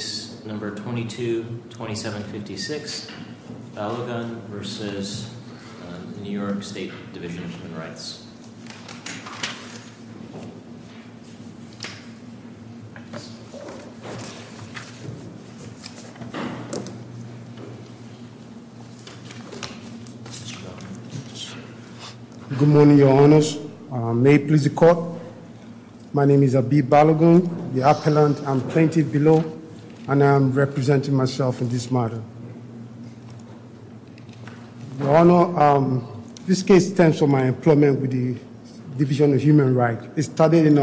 Case No. 22-2756, Balogun v. New York State Division of Human Rights. Good morning, your honors. My name is Abib Balogun, the appellant I'm pointing below, and I'm representing myself in this matter. Your honor, this case stems from my employment with the Division of Human Rights. It started in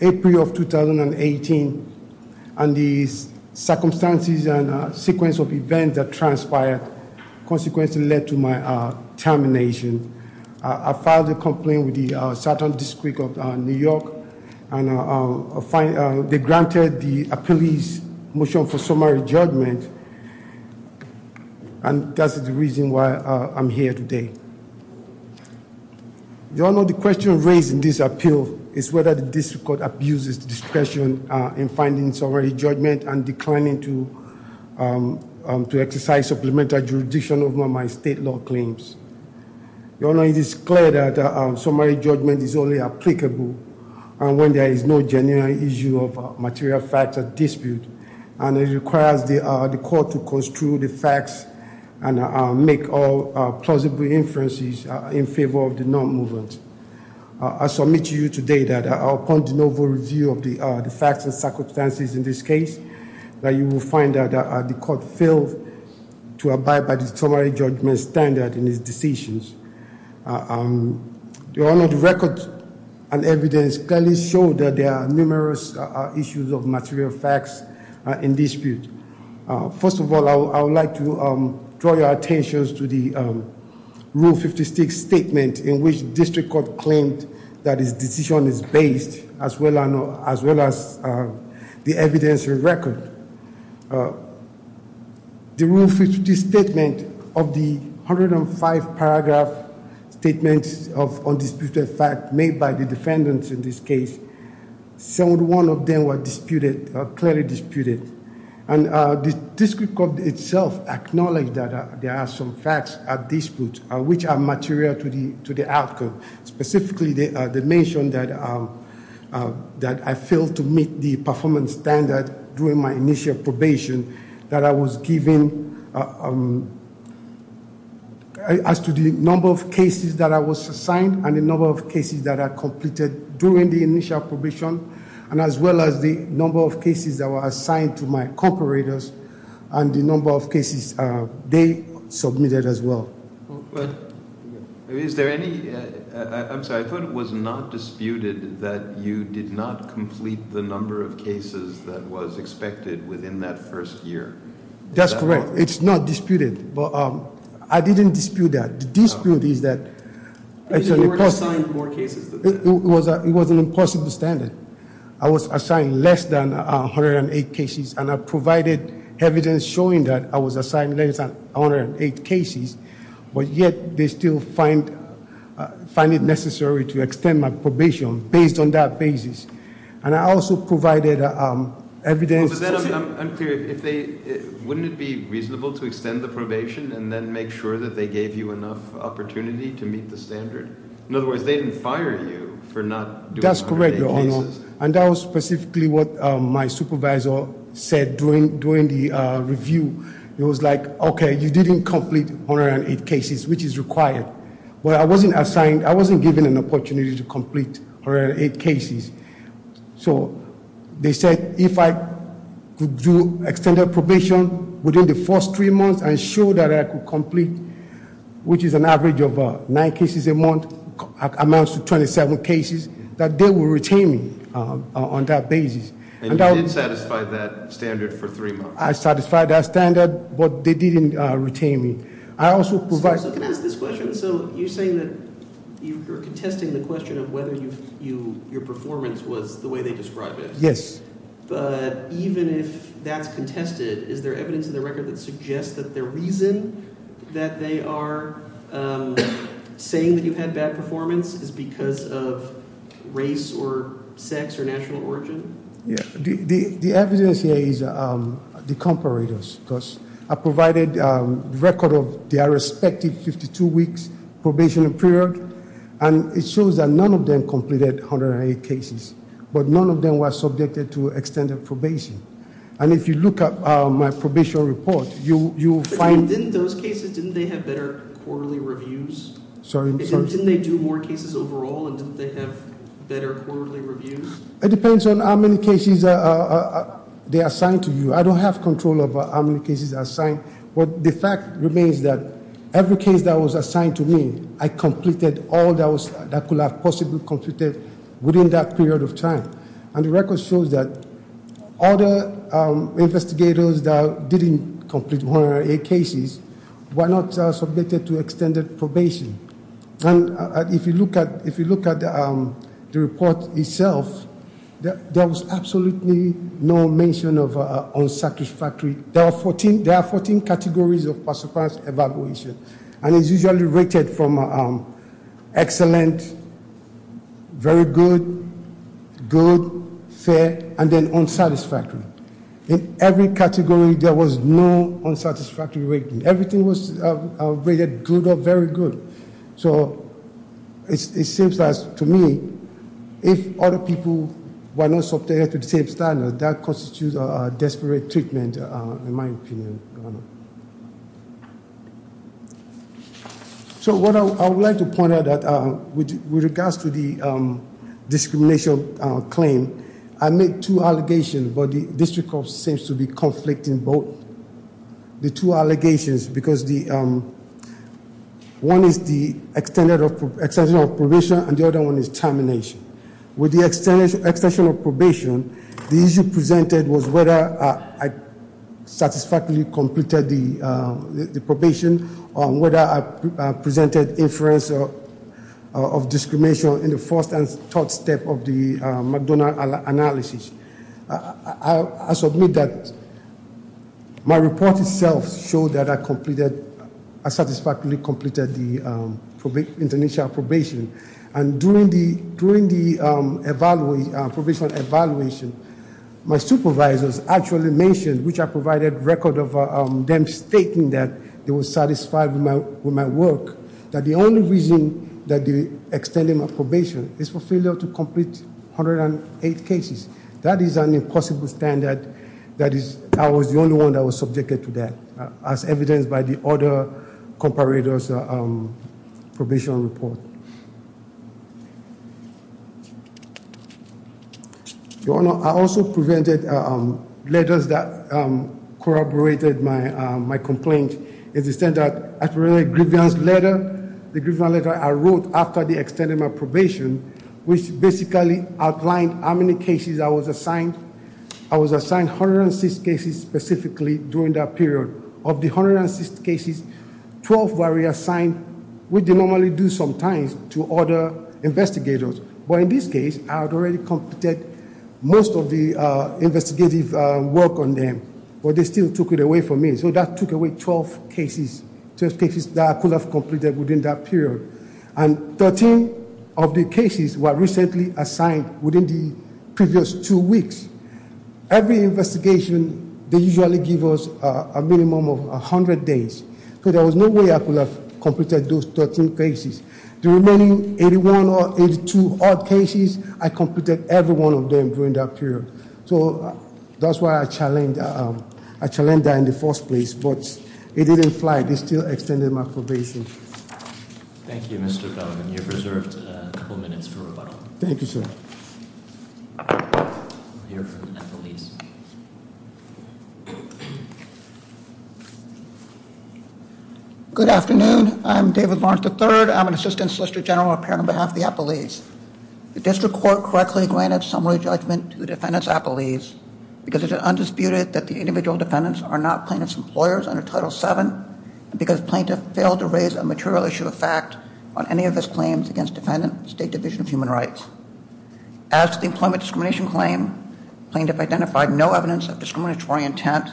April of 2018, and the circumstances and sequence of events that transpired consequently led to my termination. I filed a complaint with the Southern District of New York, and they granted the appellee's motion for summary judgment. And that's the reason why I'm here today. Your honor, the question raised in this appeal is whether the district court abuses discretion in finding summary judgment and declining to exercise supplemental jurisdiction over my state law claims. Your honor, it is clear that summary judgment is only applicable when there is no genuine issue of material fact or dispute. And it requires the court to construe the facts and make all plausible inferences in favor of the non-movement. I submit to you today that upon the novel review of the facts and circumstances in this case, that you will find that the court failed to abide by the summary judgment standard in its decisions. Your honor, the records and evidence clearly show that there are numerous issues of material facts in dispute. First of all, I would like to draw your attention to the Rule 56 statement in which district court claimed that its decision is based as well as the evidence in record. The Rule 56 statement of the 105 paragraph statements of undisputed fact made by the defendants in this case. 71 of them were clearly disputed. And the district court itself acknowledged that there are some facts at dispute which are material to the outcome. Specifically, they mentioned that I failed to meet the performance standard during my initial probation. That I was given, as to the number of cases that I was assigned and the number of cases that I completed during the initial probation. And as well as the number of cases that were assigned to my cooperators and the number of cases they submitted as well. Go ahead. Is there any, I'm sorry, I thought it was not disputed that you did not complete the number of cases that was expected within that first year. That's correct, it's not disputed, but I didn't dispute that. The dispute is that- You were assigned more cases than that. It was an impossible standard. I was assigned less than 108 cases and I provided evidence showing that I was assigned less than 108 cases. But yet, they still find it necessary to extend my probation based on that basis. And I also provided evidence- But then, I'm curious, wouldn't it be reasonable to extend the probation and then make sure that they gave you enough opportunity to meet the standard? In other words, they didn't fire you for not doing 108 cases. That's correct, your honor. And that was specifically what my supervisor said during the review. It was like, okay, you didn't complete 108 cases, which is required. But I wasn't assigned, I wasn't given an opportunity to complete 108 cases. So they said, if I could do extended probation within the first three months and show that I could complete, which is an average of nine cases a month, amounts to 27 cases, that they will retain me on that basis. And you did satisfy that standard for three months? I satisfied that standard, but they didn't retain me. I also provide- So can I ask this question? So you're saying that you're contesting the question of whether your performance was the way they describe it. Yes. But even if that's contested, is there evidence in the record that suggests that the reason that they are saying that you've had bad performance is because of race or sex or national origin? Yeah, the evidence here is the comparators, because I provided record of their respective 52 weeks probation period. And it shows that none of them completed 108 cases, but none of them were subjected to extended probation. And if you look up my probation report, you'll find- Didn't those cases, didn't they have better quarterly reviews? Sorry, I'm sorry. Didn't they do more cases overall, and didn't they have better quarterly reviews? It depends on how many cases they assigned to you. I don't have control over how many cases are assigned. But the fact remains that every case that was assigned to me, I completed all that could have possibly completed within that period of time. And the record shows that other investigators that didn't complete 108 cases, were not submitted to extended probation. And if you look at the report itself, there was absolutely no mention of unsatisfactory. There are 14 categories of pass or pass evaluation. And it's usually rated from excellent, very good, good, fair, and then unsatisfactory. In every category, there was no unsatisfactory rating. Everything was rated good or very good. So it seems as to me, if other people were not subjected to the same standard, that constitutes a desperate treatment in my opinion. So what I would like to point out with regards to the discrimination claim. I made two allegations, but the district court seems to be conflicting both. The two allegations, because one is the extension of probation, and the other one is termination. With the extension of probation, the issue presented was whether I satisfactorily completed the probation, or whether I presented inference of discrimination in the first and third step of the McDonough analysis. I submit that my report itself showed that I completed, I satisfactorily completed the international probation. And during the probation evaluation, my supervisors actually mentioned, which I provided record of them stating that they were satisfied with my work. That the only reason that they extended my probation is for failure to complete 108 cases. That is an impossible standard. That is, I was the only one that was subjected to that, as evidenced by the other comparator's probation report. Your Honor, I also presented letters that corroborated my complaint. It is said that after the grievance letter, the grievance letter I wrote after they extended my probation, which basically outlined how many cases I was assigned. I was assigned 106 cases specifically during that period. Of the 106 cases, 12 were reassigned, which they normally do sometimes, to other investigators. But in this case, I had already completed most of the investigative work on them, but they still took it away from me. So that took away 12 cases, 12 cases that I could have completed within that period. And 13 of the cases were recently assigned within the previous two weeks. Every investigation, they usually give us a minimum of 100 days. So there was no way I could have completed those 13 cases. The remaining 81 or 82 odd cases, I completed every one of them during that period. So that's why I challenged that in the first place, but it didn't apply. They still extended my probation. Thank you, Mr. Bellman. You've reserved a couple minutes for rebuttal. Thank you, sir. I'm here for the appellees. Good afternoon, I'm David Lawrence III, I'm an Assistant Solicitor General, appearing on behalf of the appellees. The district court correctly granted summary judgment to the defendant's appellees because it is undisputed that the individual defendants are not plaintiff's employers under Title VII, and because plaintiff failed to raise a material issue of fact on any of his claims against defendant State Division of Human Rights. As to the employment discrimination claim, plaintiff identified no evidence of discriminatory intent.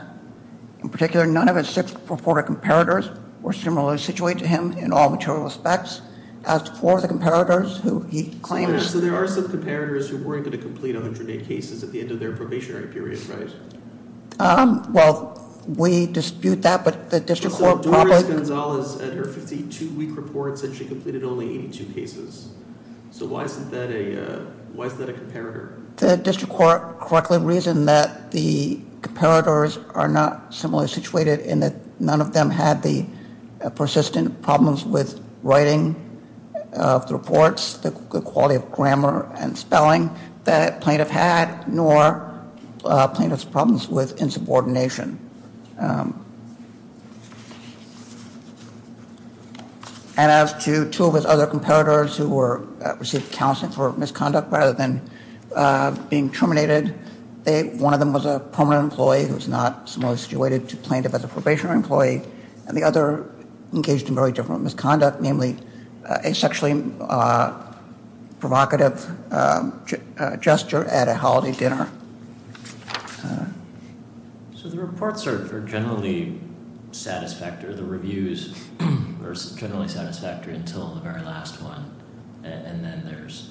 In particular, none of his six reported comparators were similarly situated to him in all material aspects. As for the comparators who he claims- So there are some comparators who weren't going to complete 108 cases at the end of their probationary period, right? Well, we dispute that, but the district court- Doris Gonzalez, at her 52 week report, said she completed only 82 cases. So why is that a comparator? The district court correctly reasoned that the comparators are not similarly situated in that none of them had the persistent problems with writing of the reports, the quality of grammar and spelling that a plaintiff had, nor plaintiff's problems with insubordination. And as to two of his other comparators who received counseling for misconduct rather than being terminated, one of them was a permanent employee who was not similarly situated to plaintiff as a probationary employee, and the other engaged in very different misconduct, namely a sexually provocative gesture at a holiday dinner. So the reports are generally satisfactory, the reviews are generally satisfactory until the very last one. And then there's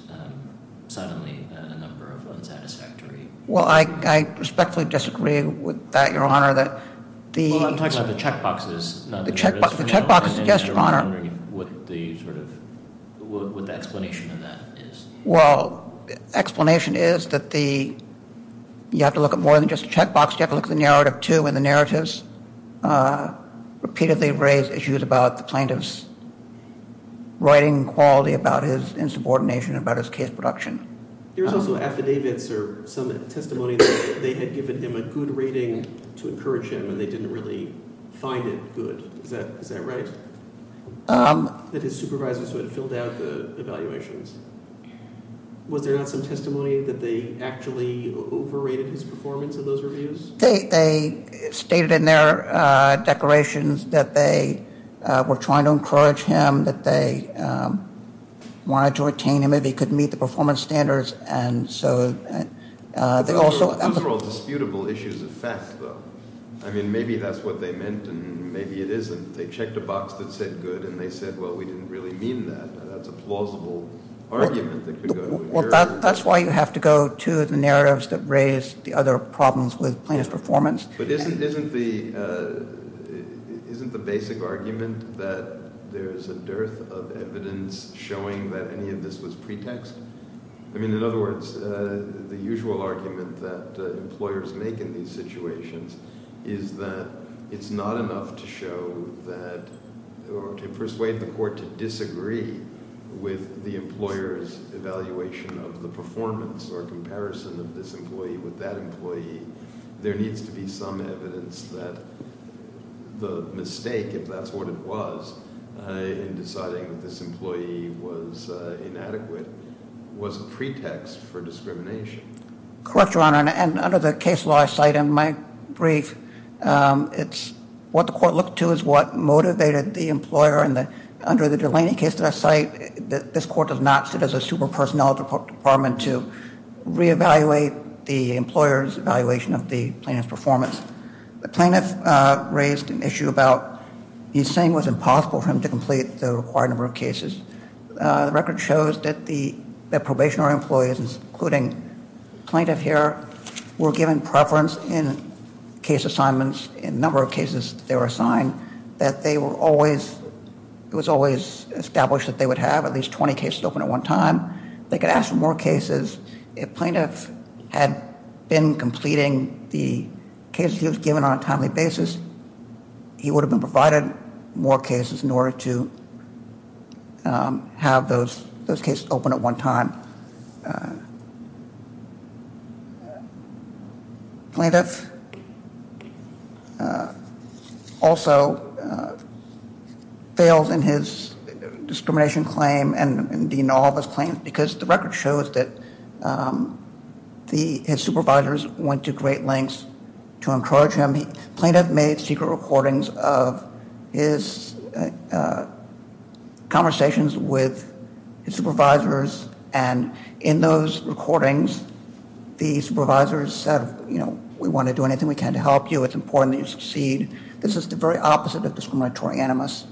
suddenly a number of unsatisfactory- Well, I respectfully disagree with that, Your Honor, that the- Well, I'm talking about the checkboxes, not the notice for now. The checkbox, yes, Your Honor. And I'm wondering what the explanation of that is. Well, the explanation is that you have to look at more than just the checkbox, you have to look at the narrative too, and the narratives repeatedly raise issues about the plaintiff's writing quality, about his insubordination, about his case production. There's also affidavits or some testimony that they had given him a good rating to encourage him, and they didn't really find it good. Is that right? That his supervisors would have filled out the evaluations. Was there not some testimony that they actually overrated his performance in those reviews? They stated in their declarations that they were trying to encourage him, that they wanted to retain him if he could meet the performance standards, and so they also- Those are all disputable issues of fact, though. I mean, maybe that's what they meant, and maybe it isn't. They checked a box that said good, and they said, well, we didn't really mean that. That's a plausible argument that could go- Well, that's why you have to go to the narratives that raise the other problems with plaintiff's performance. But isn't the basic argument that there's a dearth of evidence showing that any of this was pretext? I mean, in other words, the usual argument that employers make in these situations is that it's not enough to show that, or to persuade the court to disagree with the employer's evaluation of the performance or comparison of this employee with that employee. There needs to be some evidence that the mistake, if that's what it was, in deciding that this employee was inadequate, was a pretext for discrimination. Correct, Your Honor, and under the case law I cite in my brief, it's what the court looked to is what motivated the employer, and under the Delaney case that I cite, this court does not sit as a super personnel department to re-evaluate the employer's evaluation of the plaintiff's performance. The plaintiff raised an issue about he's saying it was impossible for him to complete the required number of cases. The record shows that the probationary employees, including plaintiff here, were given preference in case assignments, in number of cases they were assigned, that it was always established that they would have at least 20 cases open at one time. They could ask for more cases. If plaintiff had been completing the cases he was given on a timely basis, he would have been provided more cases in order to have those cases open at one time. Plaintiff also fails in his discrimination claim, and in all of his claims, because the record shows that his supervisors went to great lengths to encourage him. Plaintiff made secret recordings of his conversations with his supervisors, and in those recordings, the supervisors said, you know, we want to do anything we can to help you. It's important that you succeed. This is the very opposite of discriminatory animus.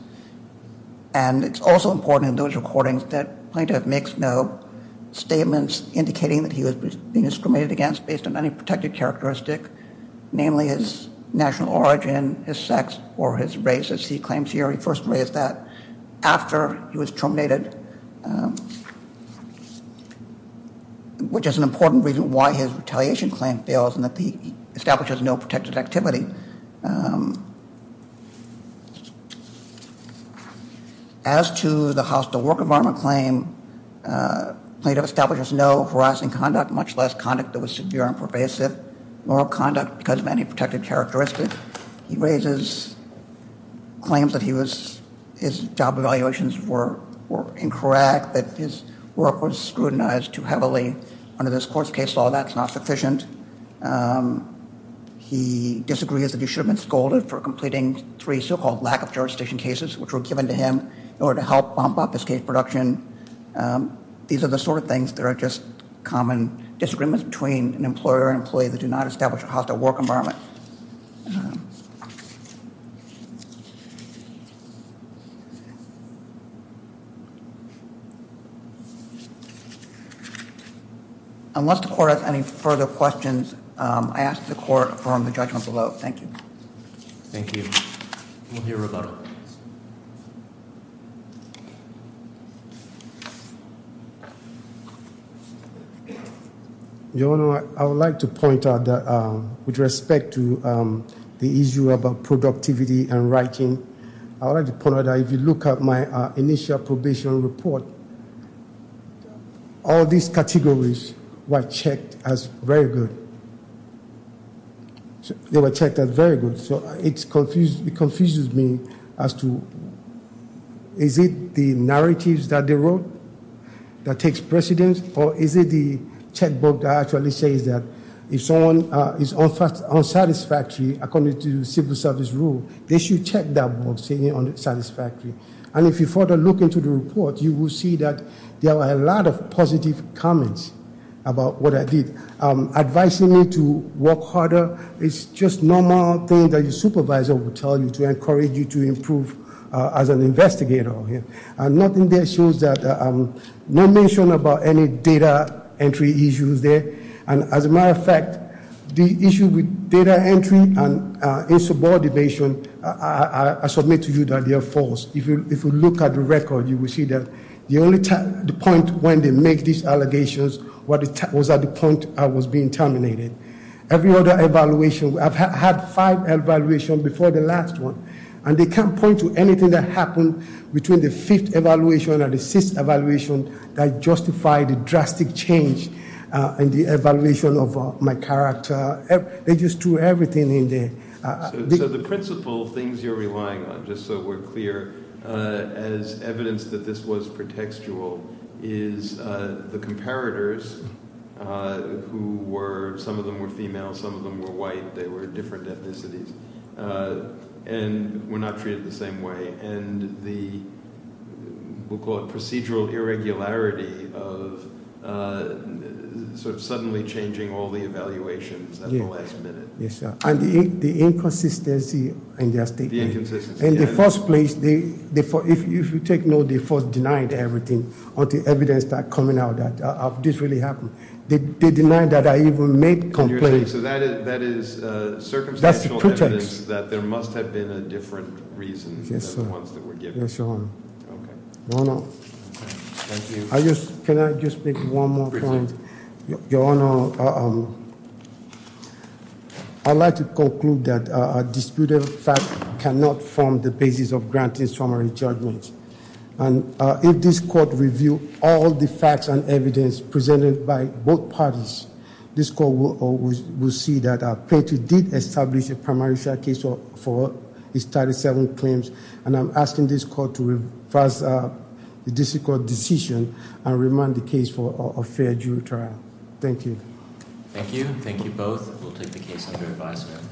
And it's also important in those recordings that plaintiff makes no statements indicating that he was being discriminated against based on any protected characteristic, namely his national origin, his sex, or his race, as he claims here. He first raised that after he was terminated, which is an important reason why his retaliation claim fails, and that he establishes no protected activity. As to the hostile work environment claim, plaintiff establishes no harassing conduct, much less conduct that was severe and pervasive. Moral conduct because of any protected characteristic. He raises claims that his job evaluations were incorrect, that his work was scrutinized too heavily under this court's case law. That's not sufficient. He disagrees that he should have been scolded for completing three so-called lack of jurisdiction cases, which were given to him in order to help bump up his case production. And these are the sort of things that are just common disagreements between an employer and employee that do not establish a hostile work environment. Unless the court has any further questions, I ask the court to affirm the judgment below. Thank you. Thank you. We'll hear rebuttal. Your Honor, I would like to point out that with respect to the issue about productivity and writing, I would like to point out that if you look at my initial probation report, all these categories were checked as very good. They were checked as very good, so it confuses me as to, is it the narratives that they wrote that takes precedence? Or is it the checkbook that actually says that if someone is unsatisfactory according to civil service rule, they should check that book, see if it's unsatisfactory. And if you further look into the report, you will see that there were a lot of positive comments about what I did. Advising me to work harder is just normal thing that your supervisor would tell you to encourage you to improve as an investigator. And nothing there shows that, no mention about any data entry issues there. And as a matter of fact, the issue with data entry and insubordination, I submit to you that they are false. If you look at the record, you will see that the only point when they make these allegations was at the point I was being terminated. Every other evaluation, I've had five evaluations before the last one. And they can't point to anything that happened between the fifth evaluation and the sixth evaluation that justified the drastic change in the evaluation of my character. They just threw everything in there. So the principal things you're relying on, just so we're clear, as evidence that this was pretextual, is the comparators who were, some of them were female, some of them were white, they were different ethnicities. And were not treated the same way. And the, we'll call it procedural irregularity of sort of suddenly changing all the evaluations at the last minute. Yes, sir. And the inconsistency in their statement. The inconsistency, yes. In the first place, if you take note, they first denied everything until evidence start coming out that this really happened. So that is circumstantial evidence. That's the pretext. That there must have been a different reason than the ones that were given. Yes, your honor. Okay. Thank you. I just, can I just make one more point? Your honor, I'd like to conclude that a disputed fact cannot form the basis of granting summary judgments. And if this court review all the facts and evidence presented by both parties, this court will see that Petty did establish a primary trial case for his 37 claims. And I'm asking this court to revise the district court decision and remand the case for a fair jury trial. Thank you. Thank you. Thank you both. We'll take the case under advisement.